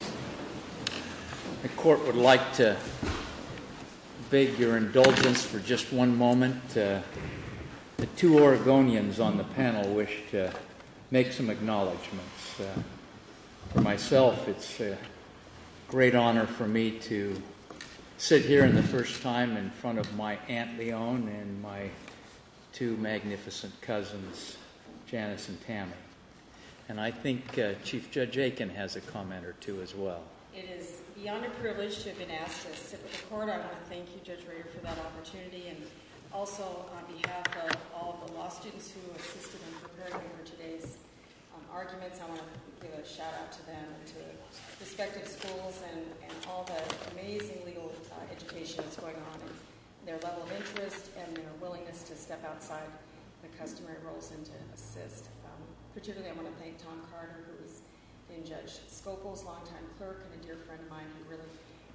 The Court would like to beg your indulgence for just one moment. The two Oregonians on the panel wish to make some acknowledgements. For myself, it's a great honor for me to sit here for the first time in front of my Aunt Leon and my two magnificent cousins, Janice and Tammy. And I think Chief Judge Aiken has a comment or two as well. It is beyond a privilege to have been asked to sit with the Court. I want to thank you, Judge Rader, for that opportunity. And also on behalf of all of the law students who assisted in preparing me for today's arguments, I want to give a shout-out to them and to the respective schools and all the amazing legal education that's going on and their level of interest and their willingness to step outside the customary roles and to assist. Particularly, I want to thank Tom Carter, who's been Judge Scopel's long-time clerk, and a dear friend of mine who really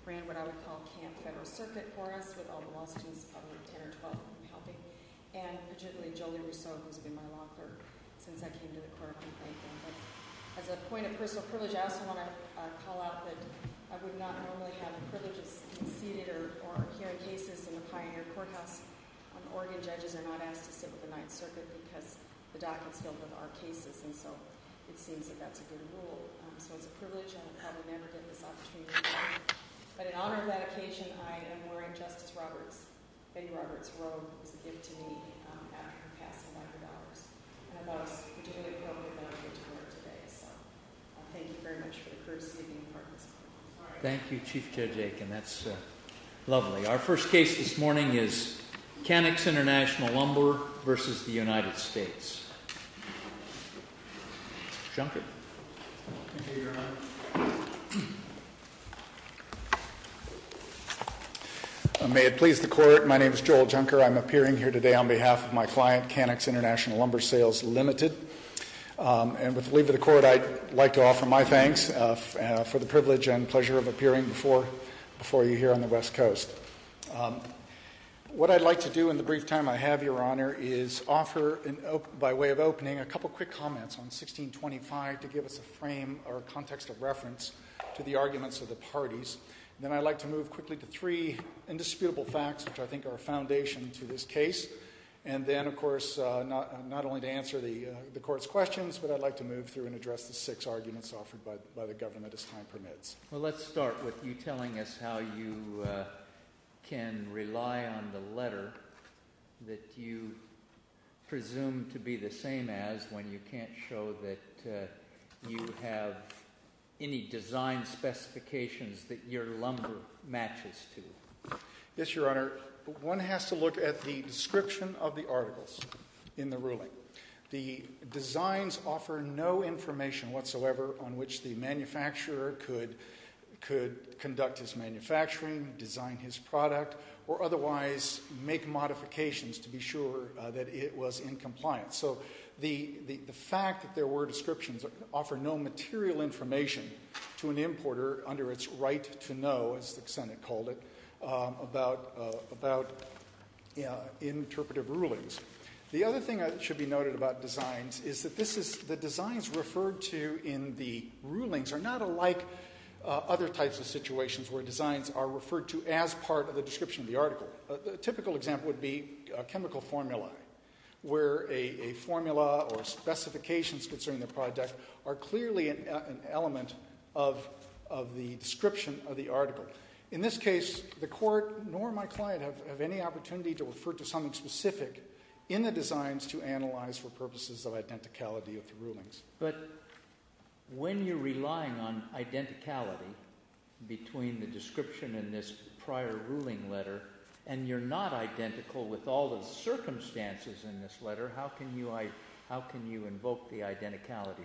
ran what I would call Camp Federal Circuit for us, with all the law students of 10 or 12 helping. And particularly, Jolie Rousseau, who's been my law clerk since I came to the Court. As a point of personal privilege, I also want to call out that I would not normally have the privilege of seated or hearing cases in a Pioneer Courthouse. Oregon judges are not asked to sit with the Ninth Circuit because the docket's filled with our cases, and so it seems that that's a good rule. So it's a privilege, and I'll probably never get this opportunity again. But in honor of that occasion, I am wearing Justice Roberts' big Roberts robe, which was a gift to me after passing $100. And I thought it was particularly appropriate that I get to wear it today, so I thank you very much for the courtesy of being a part of this moment. Thank you, Chief Judge Aiken. That's lovely. Our first case this morning is Canix International Lumber v. The United States. Mr. Junker. Thank you, Your Honor. May it please the Court, my name is Joel Junker. I'm appearing here today on behalf of my client, Canix International Lumber Sales Limited. And with the leave of the Court, I'd like to offer my thanks for the privilege and pleasure of appearing before you here on the West Coast. What I'd like to do in the brief time I have, Your Honor, is offer by way of opening a couple quick comments on 1625 to give us a frame or a context of reference to the arguments of the parties. Then I'd like to move quickly to three indisputable facts, which I think are a foundation to this case. And then, of course, not only to answer the Court's questions, but I'd like to move through and address the six arguments offered by the government as time permits. Well, let's start with you telling us how you can rely on the letter that you presume to be the same as when you can't show that you have any design specifications that your lumber matches to. Yes, Your Honor. One has to look at the description of the articles in the ruling. The designs offer no information whatsoever on which the manufacturer could conduct his manufacturing, design his product, or otherwise make modifications to be sure that it was in compliance. So the fact that there were descriptions offer no material information to an importer under its right to know, as the Senate called it, about interpretive rulings. The other thing that should be noted about designs is that the designs referred to in the rulings are not alike other types of situations where designs are referred to as part of the description of the article. A typical example would be a chemical formula where a formula or specifications concerning the product are clearly an element of the description of the article. In this case, the Court nor my client have any opportunity to refer to something specific in the designs to analyze for purposes of identicality of the rulings. But when you're relying on identicality between the description in this prior ruling letter and you're not identical with all the circumstances in this letter, how can you invoke the identicality rule?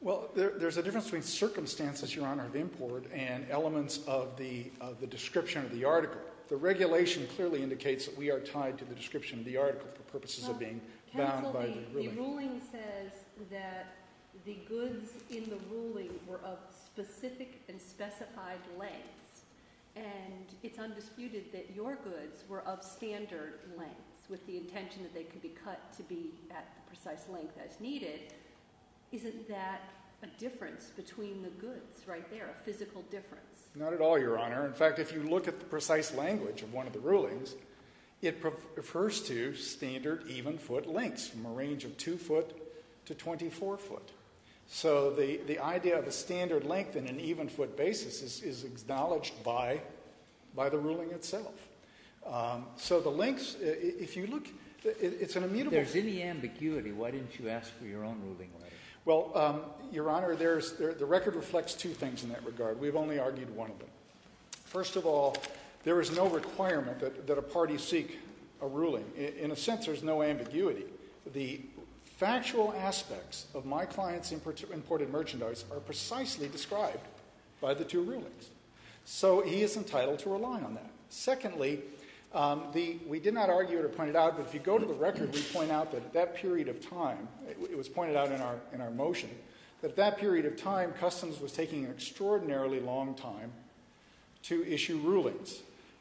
Well, there's a difference between circumstances, Your Honor, of import and elements of the description of the article. The regulation clearly indicates that we are tied to the description of the article for purposes of being bound by the ruling. The ruling says that the goods in the ruling were of specific and specified lengths, and it's undisputed that your goods were of standard lengths with the intention that they could be cut to be at the precise length as needed. Isn't that a difference between the goods right there, a physical difference? Not at all, Your Honor. In fact, if you look at the precise language of one of the rulings, it refers to standard even-foot lengths from a range of 2 foot to 24 foot. So the idea of a standard length in an even-foot basis is acknowledged by the ruling itself. So the lengths, if you look, it's an immutable... If there's any ambiguity, why didn't you ask for your own ruling letter? Well, Your Honor, the record reflects two things in that regard. We've only argued one of them. First of all, there is no requirement that a party seek a ruling. In a sense, there's no ambiguity. The factual aspects of my client's imported merchandise are precisely described by the two rulings. So he is entitled to rely on that. Secondly, we did not argue it or point it out, but if you go to the record, we point out that that period of time, it was pointed out in our motion, that that period of time, that Customs was taking an extraordinarily long time to issue rulings.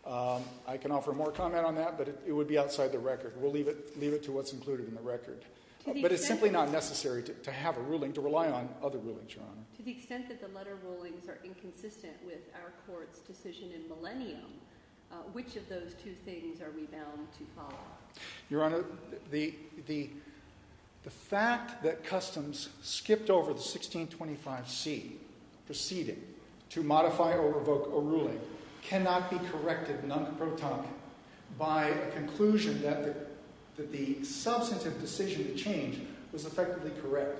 I can offer more comment on that, but it would be outside the record. We'll leave it to what's included in the record. But it's simply not necessary to have a ruling, to rely on other rulings, Your Honor. To the extent that the letter rulings are inconsistent with our Court's decision in Millennium, which of those two things are we bound to follow? Your Honor, the fact that Customs skipped over the 1625c proceeding to modify or revoke a ruling cannot be corrected non pro tonque by a conclusion that the substantive decision to change was effectively correct.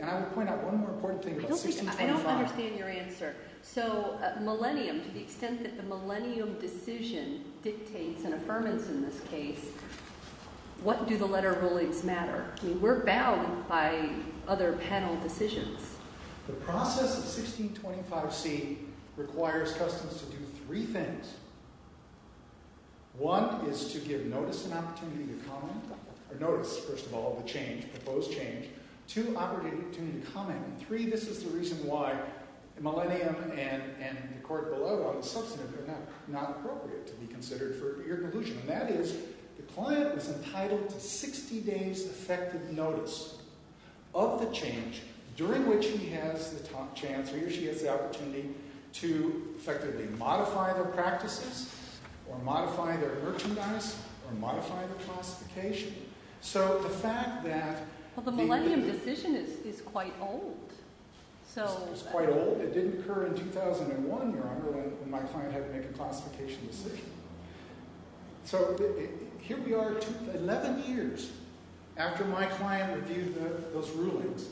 And I would point out one more important thing about 1625. I don't understand your answer. So Millennium, to the extent that the Millennium decision dictates an affirmance in this case, what do the letter rulings matter? We're bound by other panel decisions. The process of 1625c requires Customs to do three things. One is to give notice and opportunity to comment, or notice, first of all, the proposed change. Two, opportunity to comment. And three, this is the reason why Millennium and the court below on the substantive are not appropriate to be considered for your conclusion. And that is the client was entitled to 60 days' effective notice of the change during which he has the chance or she has the opportunity to effectively modify their practices or modify their merchandise or modify their classification. So the fact that... Well, the Millennium decision is quite old. It's quite old. It didn't occur in 2001, Your Honor, when my client had to make a classification decision. So here we are 11 years after my client reviewed those rulings,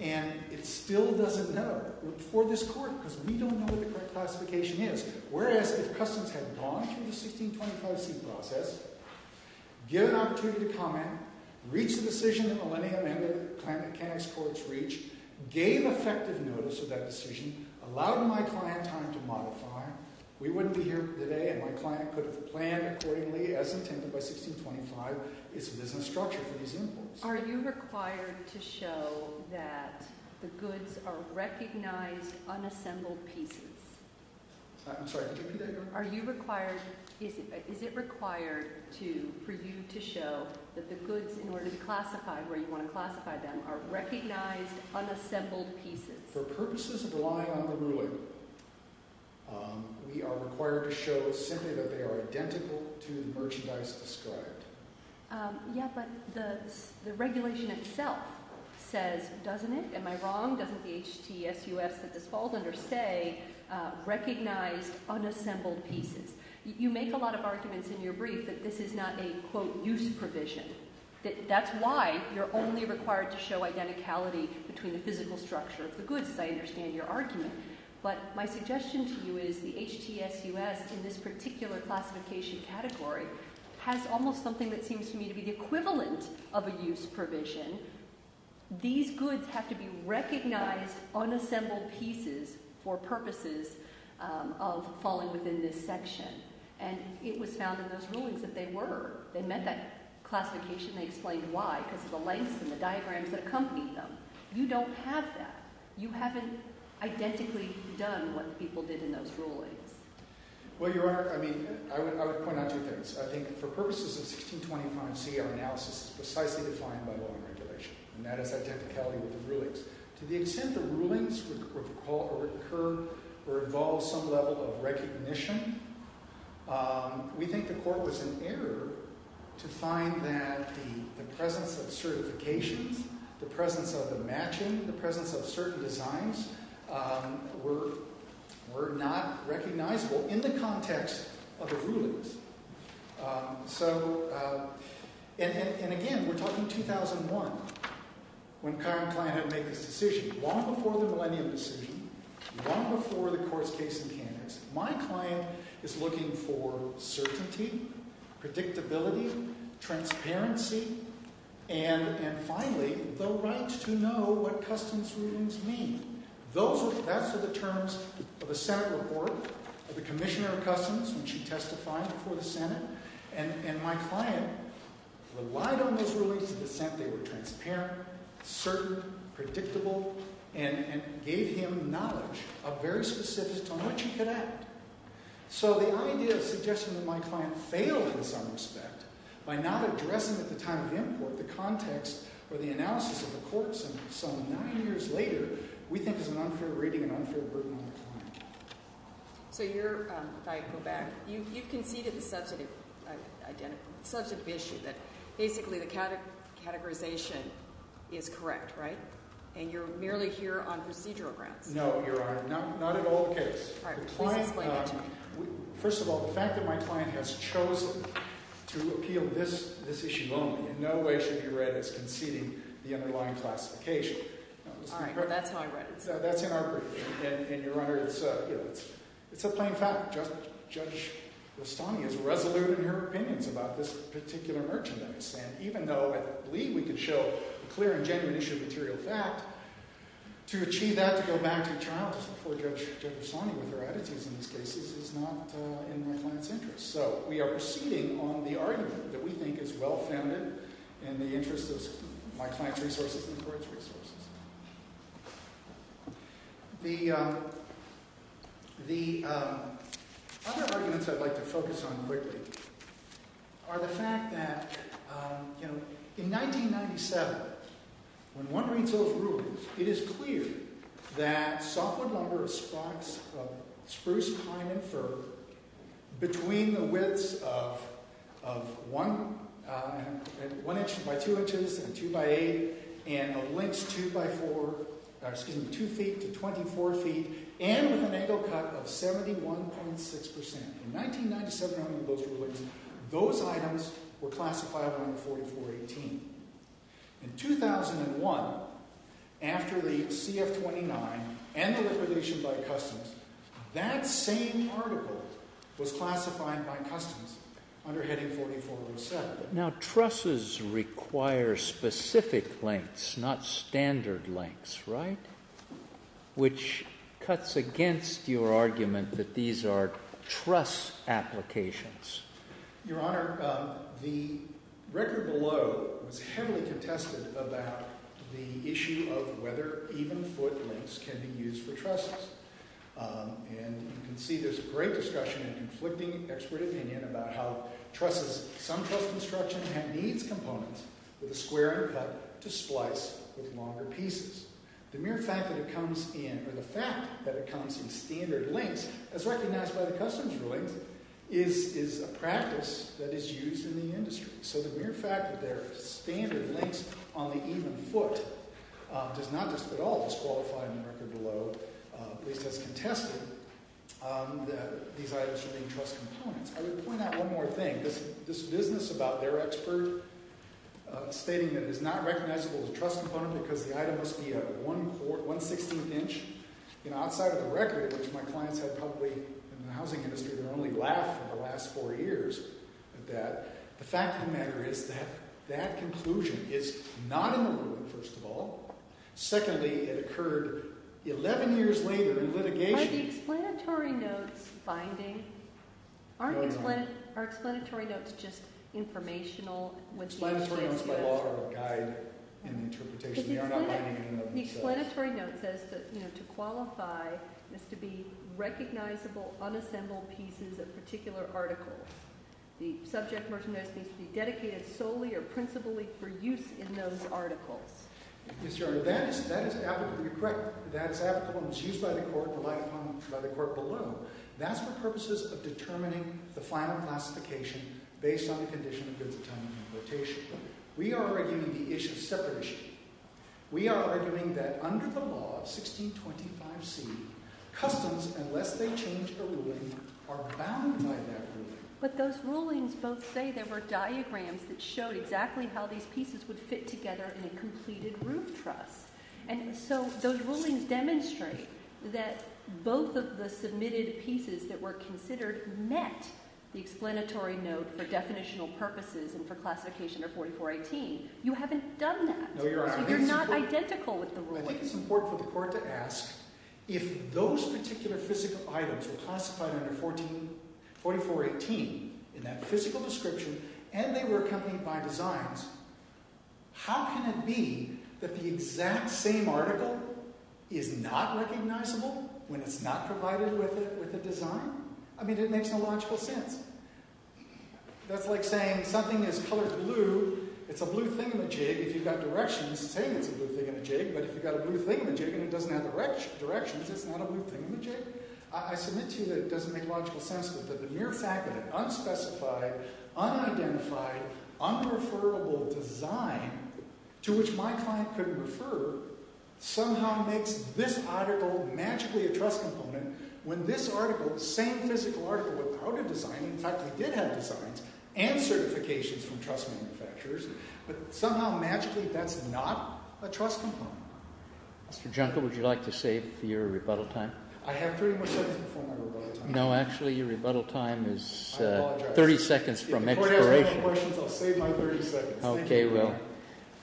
and it still doesn't know for this court because we don't know what the correct classification is. Whereas if Customs had gone through the 1625c process, given opportunity to comment, reached the decision that Millennium and the mechanics courts reached, gave effective notice of that decision, allowed my client time to modify, we wouldn't be here today and my client could have planned accordingly, as intended by 1625, its business structure for these imports. Are you required to show that the goods are recognized, unassembled pieces? I'm sorry, could you repeat that, Your Honor? Are you required... Is it required for you to show that the goods, in order to classify where you want to classify them, are recognized, unassembled pieces? For purposes of relying on the ruling, we are required to show simply that they are identical to the merchandise described. Yeah, but the regulation itself says, doesn't it? Am I wrong? Doesn't the HTSUS that this falls under say, recognize unassembled pieces? You make a lot of arguments in your brief that this is not a, quote, use provision. That's why you're only required to show identicality between the physical structure of the goods, as I understand your argument. But my suggestion to you is the HTSUS, in this particular classification category, has almost something that seems to me to be the equivalent of a use provision. These goods have to be recognized, unassembled pieces, for purposes of falling within this section. And it was found in those rulings that they were. They met that classification. They explained why, because of the lengths and the diagrams that accompanied them. You don't have that. You haven't identically done what the people did in those rulings. Well, Your Honor, I mean, I would point out two things. I think for purposes of 1625C, our analysis is precisely defined by law and regulation. And that is identicality with the rulings. To the extent the rulings would occur or involve some level of recognition, we think the court was in error to find that the presence of certifications, the presence of the matching, the presence of certain designs, were not recognizable in the context of the rulings. So, and again, we're talking 2001, when Carr and Kline have made this decision, long before the millennium decision, long before the court's case mechanics. My client is looking for certainty, predictability, transparency, and, finally, the right to know what Customs rulings mean. Those are the terms of a Senate report of the Commissioner of Customs, which he testified before the Senate. And my client relied on those rulings to the extent they were transparent, certain, predictable, and gave him knowledge of very specifics on which he could act. So the idea of suggesting that my client failed in this unrespect, by not addressing at the time of import the context or the analysis of the courts, and some nine years later, we think is an unfair rating and unfair burden on the client. So you're, if I go back, you've conceded the substantive issue, that basically the categorization is correct, right? And you're merely here on procedural grounds. No, Your Honor, not at all the case. First of all, the fact that my client has chosen to appeal this issue only, in no way should be read as conceding the underlying classification. All right. Well, that's how I read it. That's in our brief. And, Your Honor, it's a plain fact. Judge Rustani is resolute in her opinions about this particular merchandise. And even though I believe we could show a clear and genuine issue of material fact, to achieve that, to go back to trial, to support Judge Rustani with her attitudes in these cases, is not in my client's interest. So we are proceeding on the argument that we think is well-founded in the interest of my client's resources and the court's resources. The other arguments I'd like to focus on quickly are the fact that, you know, in 1997, when one reads those rulings, it is clear that softwood lumber of spruce, pine, and fir between the widths of 1 inch by 2 inches and 2 by 8 and the lengths 2 feet to 24 feet and with an angle cut of 71.6 percent. In 1997, under those rulings, those items were classified under 4418. In 2001, after the CF-29 and the liquidation by customs, that same article was classified by customs under heading 4417. Now, trusses require specific lengths, not standard lengths, right? Which cuts against your argument that these are truss applications. Your Honor, the record below was heavily contested about the issue of whether even foot lengths can be used for trusses. And you can see there's a great discussion and conflicting expert opinion about how trusses, some truss construction, have these components with a square input to splice with longer pieces. The mere fact that it comes in, or the fact that it comes in standard lengths, as recognized by the customs rulings, is a practice that is used in the industry. So the mere fact that there are standard lengths on the even foot does not at all disqualify in the record below, at least as contested, that these items should be truss components. I would point out one more thing. This business about their expert stating that it is not recognizable as a truss component because the item must be 1 16th inch outside of the record, which my clients have probably, in the housing industry, they've only laughed for the last four years at that. The fact of the matter is that that conclusion is not in the ruling, first of all. Secondly, it occurred 11 years later in litigation. Are the explanatory notes binding? No, Your Honor. Are explanatory notes just informational? Explanatory notes by law are a guide in the interpretation. They are not binding in and of themselves. The explanatory note says that to qualify is to be recognizable unassembled pieces of particular articles. The subject merchandise needs to be dedicated solely or principally for use in those articles. Yes, Your Honor. That is applicable. You're correct. That is applicable and is used by the court, relied upon by the court below. That's for purposes of determining the final classification based on the condition of goods of time and rotation. We are arguing the issue of separation. We are arguing that under the law of 1625C, customs, unless they change the ruling, are bound by that ruling. But those rulings both say there were diagrams that showed exactly how these pieces would fit together in a completed roof truss. And so those rulings demonstrate that both of the submitted pieces that were considered met the explanatory note for definitional purposes and for classification under 4418. You haven't done that. No, Your Honor. So you're not identical with the ruling. I think it's important for the court to ask if those particular physical items were classified under 4418 in that physical description and they were accompanied by designs, how can it be that the exact same article is not recognizable when it's not provided with a design? I mean, it makes no logical sense. That's like saying something is colored blue, it's a blue thingamajig, if you've got directions, saying it's a blue thingamajig, but if you've got a blue thingamajig and it doesn't have directions, it's not a blue thingamajig. I submit to you that it doesn't make logical sense that the mere fact that an unspecified, unidentified, unreferrable design to which my client could refer somehow makes this article magically a trust component when this article, the same physical article without a design, in fact, it did have designs and certifications from trust manufacturers, but somehow magically that's not a trust component. Mr. Junker, would you like to save your rebuttal time? I have 30 more seconds before my rebuttal time. No, actually, your rebuttal time is 30 seconds from expiration. If the court has no questions, I'll save my 30 seconds. Okay, well,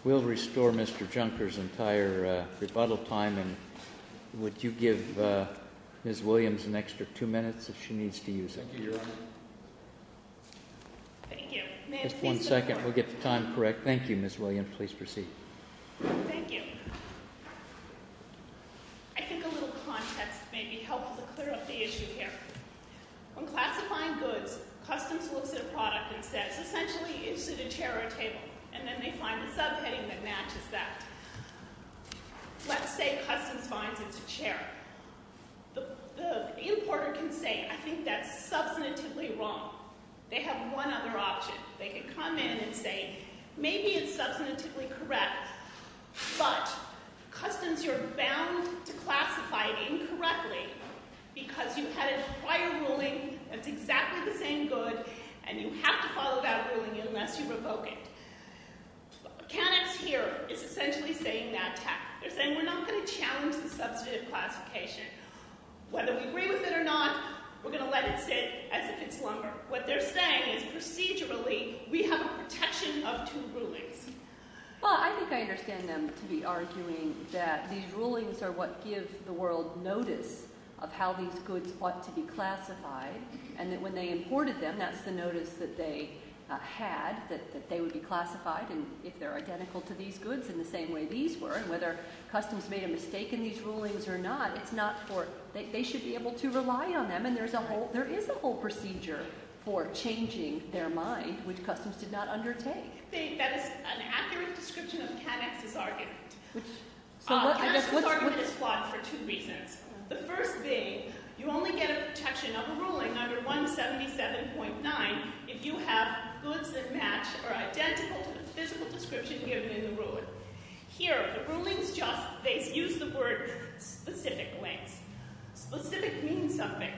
we'll restore Mr. Junker's entire rebuttal time, and would you give Ms. Williams an extra two minutes if she needs to use it? Thank you, Your Honor. Thank you. Just one second. We'll get the time correct. Thank you, Ms. Williams. Please proceed. Thank you. I think a little context may be helpful to clear up the issue here. When classifying goods, customs looks at a product and says, essentially, is it a chair or a table? And then they find a subheading that matches that. Let's say customs finds it's a chair. The importer can say, I think that's substantively wrong. They have one other option. They can come in and say, maybe it's substantively correct, but, customs, you're bound to classify it incorrectly because you had a prior ruling that's exactly the same good and you have to follow that ruling unless you revoke it. Canucks here is essentially saying that tack. They're saying we're not going to challenge the substantive classification. Whether we agree with it or not, we're going to let it sit as if it's longer. What they're saying is, procedurally, we have a protection of two rulings. Well, I think I understand them to be arguing that these rulings are what give the world notice of how these goods ought to be classified and that when they imported them, that's the notice that they had that they would be classified and if they're identical to these goods in the same way these were and whether customs made a mistake in these rulings or not. It's not for, they should be able to rely on them and there is a whole procedure for changing their mind, which customs did not undertake. That is an accurate description of Canucks' argument. Canucks' argument is flawed for two reasons. The first being, you only get a protection of a ruling under 177.9 if you have goods that match or are identical to the physical description given in the ruling. Here, the rulings just use the word specific lengths. Specific means something.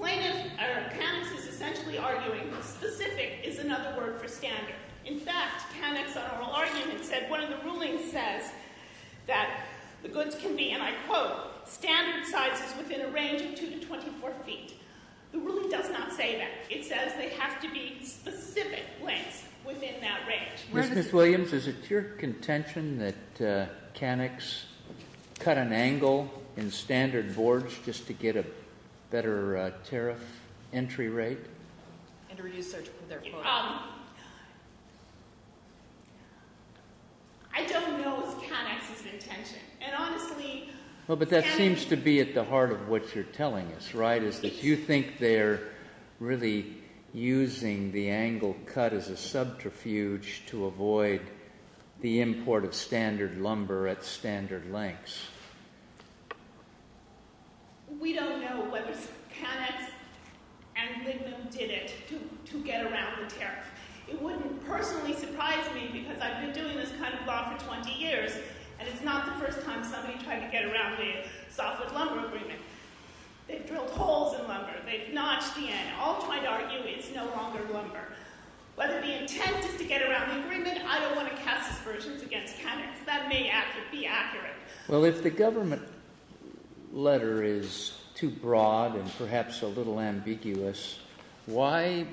Canucks is essentially arguing that specific is another word for standard. In fact, Canucks' oral argument said one of the rulings says that the goods can be, and I quote, standard sizes within a range of 2 to 24 feet. The ruling does not say that. It says they have to be specific lengths within that range. Mr. Williams, is it your contention that Canucks cut an angle in standard boards just to get a better tariff entry rate? And to reduce surgical therefore. I don't know it's Canucks' intention and honestly Well, but that seems to be at the heart of what you're telling us, right? Is that you think they're really using the angle cut as a subterfuge to avoid the import of standard lumber at standard lengths. We don't know whether it's Canucks and Lidl who did it to get around the tariff. It wouldn't personally surprise me because I've been doing this kind of law for 20 years and it's not the first time somebody tried to get around the softwood lumber agreement. They've drilled holes in lumber. They've notched the end. All I'm trying to argue is it's no longer lumber. Whether the intent is to get around the agreement, I don't want to cast aspersions against Canucks. That may be accurate. Well, if the government letter is too broad and perhaps a little ambiguous, why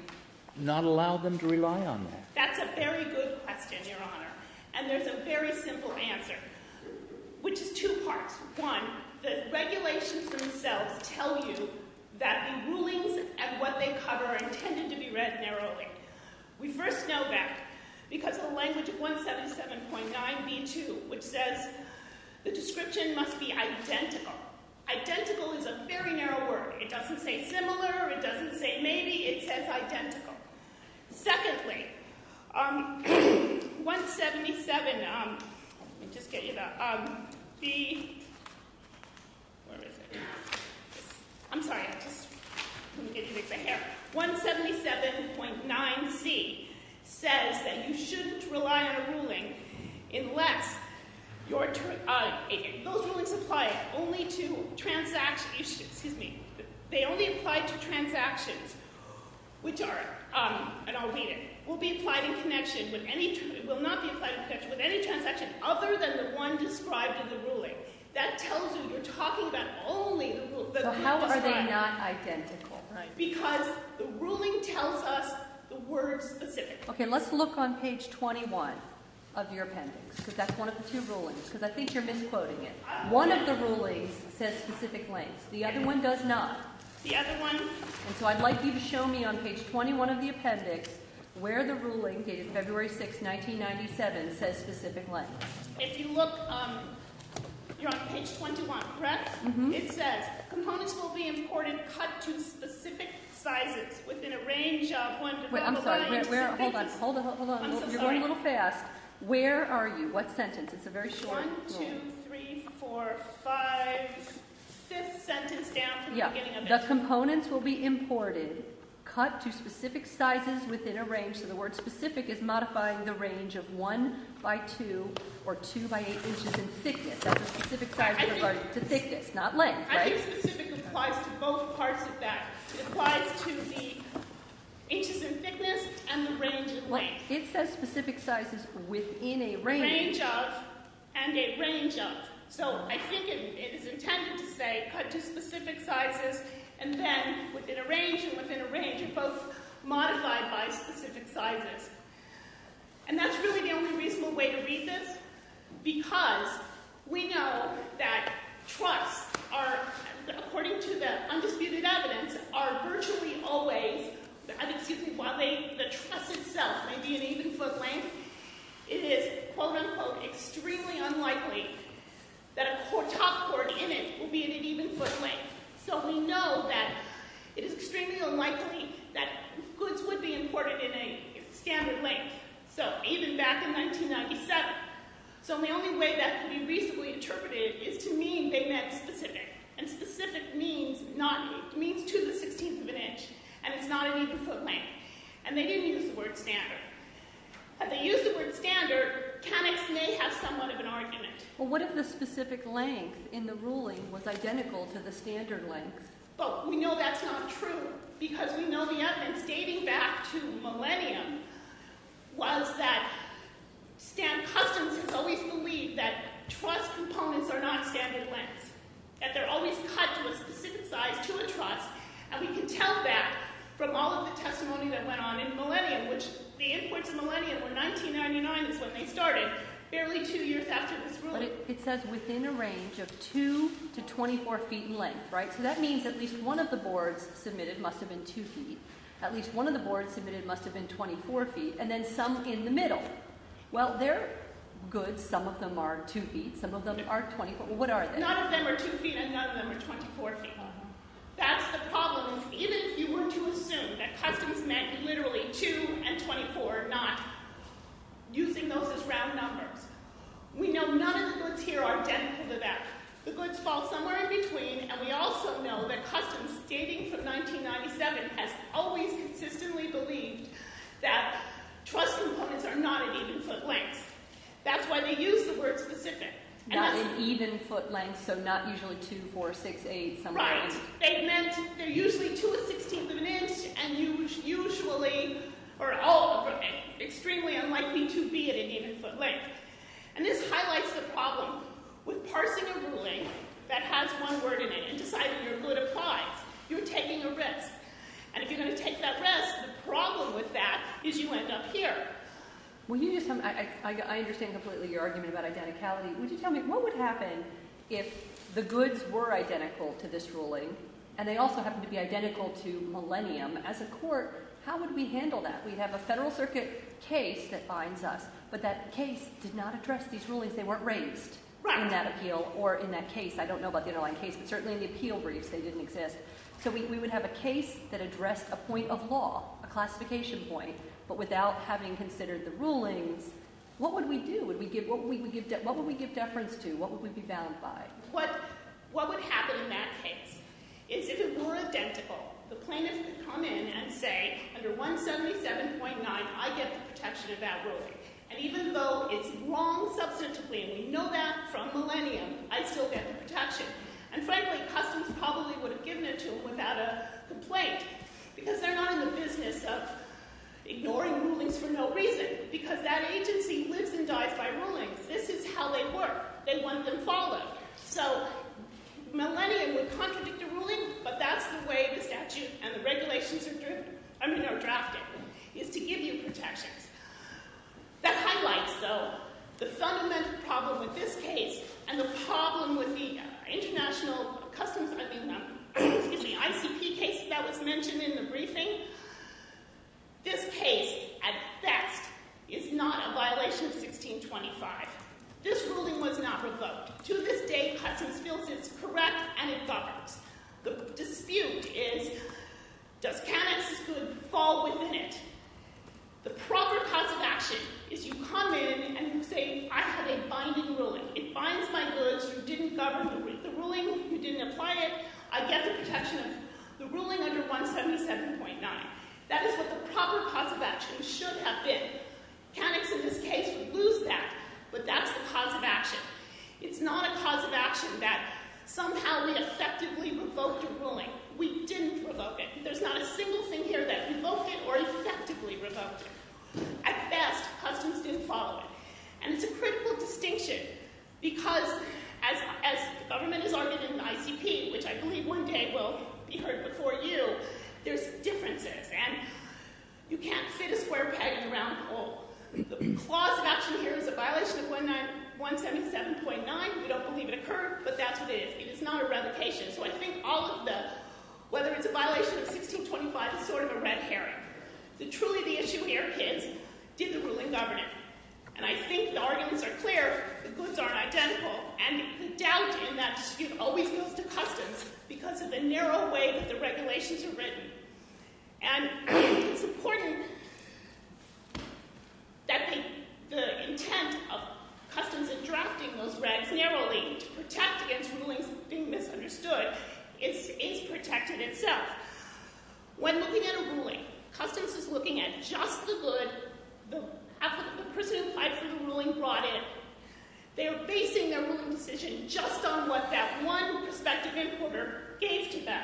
not allow them to rely on that? That's a very good question, Your Honor. And there's a very simple answer, which is two parts. One, the regulations themselves tell you that the rulings and what they cover are intended to be read narrowly. We first know that because of the language of 177.9b2, which says the description must be identical. Identical is a very narrow word. It doesn't say similar. It doesn't say maybe. It says identical. Secondly, 177.9c says that you shouldn't rely on a ruling unless your turn Those rulings apply only to transactions. Which are, and I'll read it, will be applied in connection with any transaction other than the one described in the ruling. That tells you you're talking about only the rule. So how are they not identical? Because the ruling tells us the word specifically. Okay, let's look on page 21 of your appendix, because that's one of the two rulings, because I think you're misquoting it. One of the rulings says specific lengths. The other one does not. The other one And so I'd like you to show me on page 21 of the appendix where the ruling dated February 6, 1997 says specific lengths. If you look, you're on page 21, correct? It says, components will be imported cut to specific sizes within a range of Wait, I'm sorry. Hold on, hold on. You're going a little fast. Where are you? What sentence? It's a very short rule. One, two, three, four, five, fifth sentence down from the beginning of it. Yeah. The components will be imported cut to specific sizes within a range. So the word specific is modifying the range of 1 by 2 or 2 by 8 inches in thickness. That's a specific size compared to thickness, not length, right? I think specific applies to both parts of that. It applies to the inches in thickness and the range in length. It says specific sizes within a range. A range of and a range of. So I think it is intended to say cut to specific sizes and then within a range and within a range are both modified by specific sizes. And that's really the only reasonable way to read this because we know that truss are, according to the undisputed evidence, are virtually always, excuse me, while the truss itself may be an even foot length, it is quote unquote extremely unlikely that a top cord in it will be an even foot length. So we know that it is extremely unlikely that goods would be imported in a standard length. So even back in 1997. So the only way that can be reasonably interpreted is to mean they meant specific. And specific means to the 16th of an inch and it's not an even foot length. And they didn't use the word standard. Had they used the word standard, Canix may have somewhat of an argument. Well, what if the specific length in the ruling was identical to the standard length? Well, we know that's not true because we know the evidence dating back to millennium was that Stan Customs has always believed that truss components are not standard lengths. That they're always cut to a specific size to a truss and we can tell that from all of the testimony that went on in millennium which the imports of millennium were 1999 is when they started, barely two years after this ruling. But it says within a range of 2 to 24 feet in length, right? So that means at least one of the boards submitted must have been 2 feet. At least one of the boards submitted must have been 24 feet and then some in the middle. Well, their goods, some of them are 2 feet, some of them are 24. Well, what are they? None of them are 2 feet and none of them are 24 feet long. That's the problem even if you were to assume that Customs meant literally 2 and 24, not using those as round numbers. We know none of the goods here are identical to that. The goods fall somewhere in between and we also know that Customs dating from 1997 has always consistently believed that truss components are not an even foot length. That's why they use the word specific. Not an even foot length, so not usually 2, 4, 6, 8, somewhere in between. They meant they're usually 2 and 16th of an inch and usually or all of them are extremely unlikely to be at an even foot length. And this highlights the problem with parsing a ruling that has one word in it and deciding your good applies. You're taking a risk, and if you're going to take that risk, the problem with that is you end up here. I understand completely your argument about identicality. Would you tell me what would happen if the goods were identical to this ruling and they also happened to be identical to Millennium as a court? How would we handle that? We'd have a Federal Circuit case that binds us, but that case did not address these rulings. They weren't raised in that appeal or in that case. I don't know about the underlying case, but certainly in the appeal briefs they didn't exist. So we would have a case that addressed a point of law, a classification point, but without having considered the rulings, what would we do? What would we give deference to? What would we be bound by? What would happen in that case is if it were identical, the plaintiff could come in and say, under 177.9, I get the protection of that ruling. And even though it's wrong substantively, and we know that from Millennium, I still get the protection. And frankly, customs probably would have given it to them without a complaint because they're not in the business of ignoring rulings for no reason because that agency lives and dies by rulings. This is how they work. They want them followed. So Millennium would contradict a ruling, but that's the way the statute and the regulations are drafted, is to give you protections. That highlights, though, the fundamental problem with this case and the problem with the ICP case that was mentioned in the briefing. This case, at best, is not a violation of 1625. This ruling was not revoked. To this day, Customs feels it's correct and it governs. The dispute is, does Canucks fall within it? The proper cause of action is you come in and you say, I have a binding ruling. It binds my goods. You didn't govern the ruling. You didn't apply it. I get the protection of the ruling under 177.9. That is what the proper cause of action should have been. Canucks, in this case, lose that, but that's the cause of action. It's not a cause of action that somehow we effectively revoked a ruling. We didn't revoke it. There's not a single thing here that revoked it or effectively revoked it. At best, Customs didn't follow it, and it's a critical distinction because, as the government has argued in the ICP, which I believe one day will be heard before you, there's differences, and you can't fit a square peg in a round hole. The clause of action here is a violation of 177.9. We don't believe it occurred, but that's what it is. It is not a revocation. So I think all of the, whether it's a violation of 1625, it's sort of a red herring. Truly the issue here is, did the ruling govern it? And I think the arguments are clear. The goods aren't identical. And the doubt in that dispute always goes to Customs because of the narrow way that the regulations are written. And it's important that the intent of Customs in drafting those regs narrowly to protect against rulings being misunderstood is protected itself. When looking at a ruling, Customs is looking at just the good, the applicant, the person who applied for the ruling brought in. They are basing their ruling decision just on what that one prospective importer gave to them.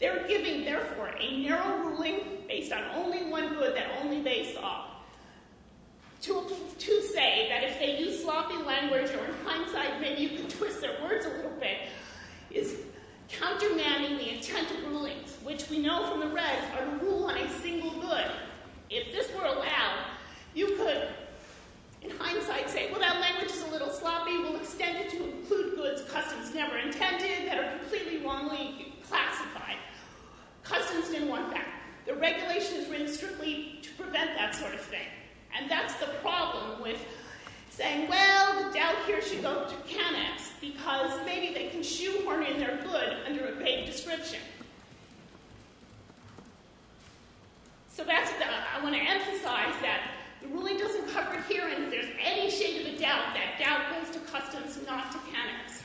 They're giving, therefore, a narrow ruling based on only one good that only they saw. To say that if they use sloppy language or hindsight, maybe you can twist their words a little bit, is countermanding the intent of rulings, which we know from the regs are to rule on a single good. So if this were allowed, you could, in hindsight, say, well, that language is a little sloppy. We'll extend it to include goods Customs never intended that are completely wrongly classified. Customs didn't want that. The regulation is written strictly to prevent that sort of thing. And that's the problem with saying, well, the doubt here should go to CanEx because maybe they can shoehorn in their good under a vague description. So that's what I want to emphasize, that the ruling doesn't cover it here, and if there's any shade of a doubt, that doubt goes to Customs, not to CanEx.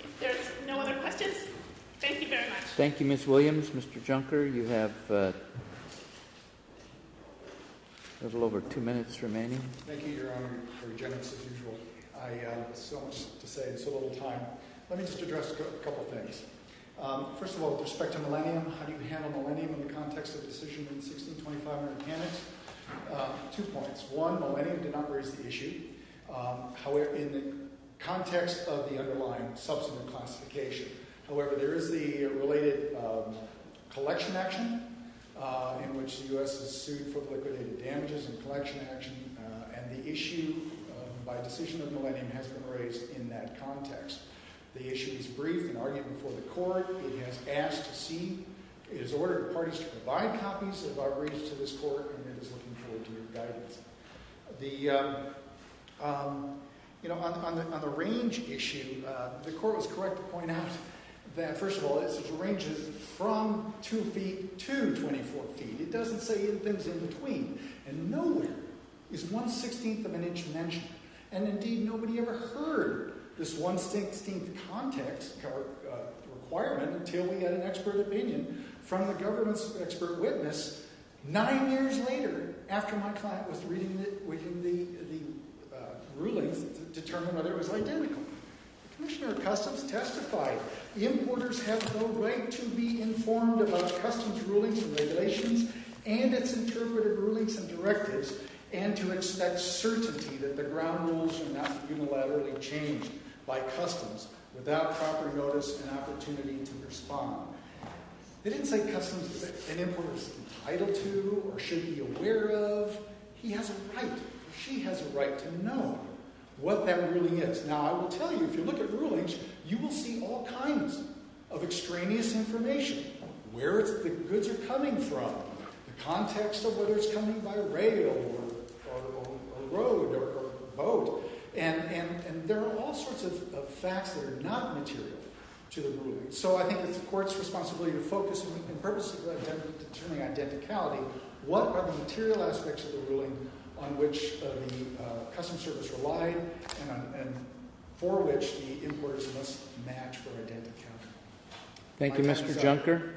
If there's no other questions, thank you very much. Thank you, Ms. Williams. Mr. Junker, you have a little over two minutes remaining. Thank you, Your Honor. Very generous, as usual. I still have to say, there's so little time. Let me just address a couple of things. First of all, with respect to Millennium, how do you handle Millennium in the context of Decision No. 1625 under CanEx? Two points. One, Millennium did not raise the issue, in the context of the underlying subsequent classification. However, there is the related collection action in which the U.S. is sued for liquidated damages and collection action, The issue is brief and argument for the court. It has asked to see. It has ordered parties to provide copies of our briefs to this court, and it is looking forward to your guidance. On the range issue, the court was correct to point out that, first of all, it ranges from two feet to 24 feet. It doesn't say things in between. And nowhere is one-sixteenth of an inch mentioned. And, indeed, nobody ever heard this one-sixteenth context requirement until we had an expert opinion from the government's expert witness, nine years later, after my client was reading the rulings to determine whether it was identical. Commissioner of Customs testified, importers have no right to be informed about customs rulings and regulations and its interpreted rulings and directives, and to expect certainty that the ground rules are not unilaterally changed by customs without proper notice and opportunity to respond. They didn't say customs that an importer is entitled to or should be aware of. He has a right. She has a right to know what that ruling is. Now, I will tell you, if you look at rulings, you will see all kinds of extraneous information, where the goods are coming from, the context of whether it's coming by rail or a road or a boat. And there are all sorts of facts that are not material to the ruling. So I think it's the Court's responsibility to focus on purposefully determining identicality. What are the material aspects of the ruling on which the customs service relied and for which the importers must match for identicality? Thank you, Mr. Junker.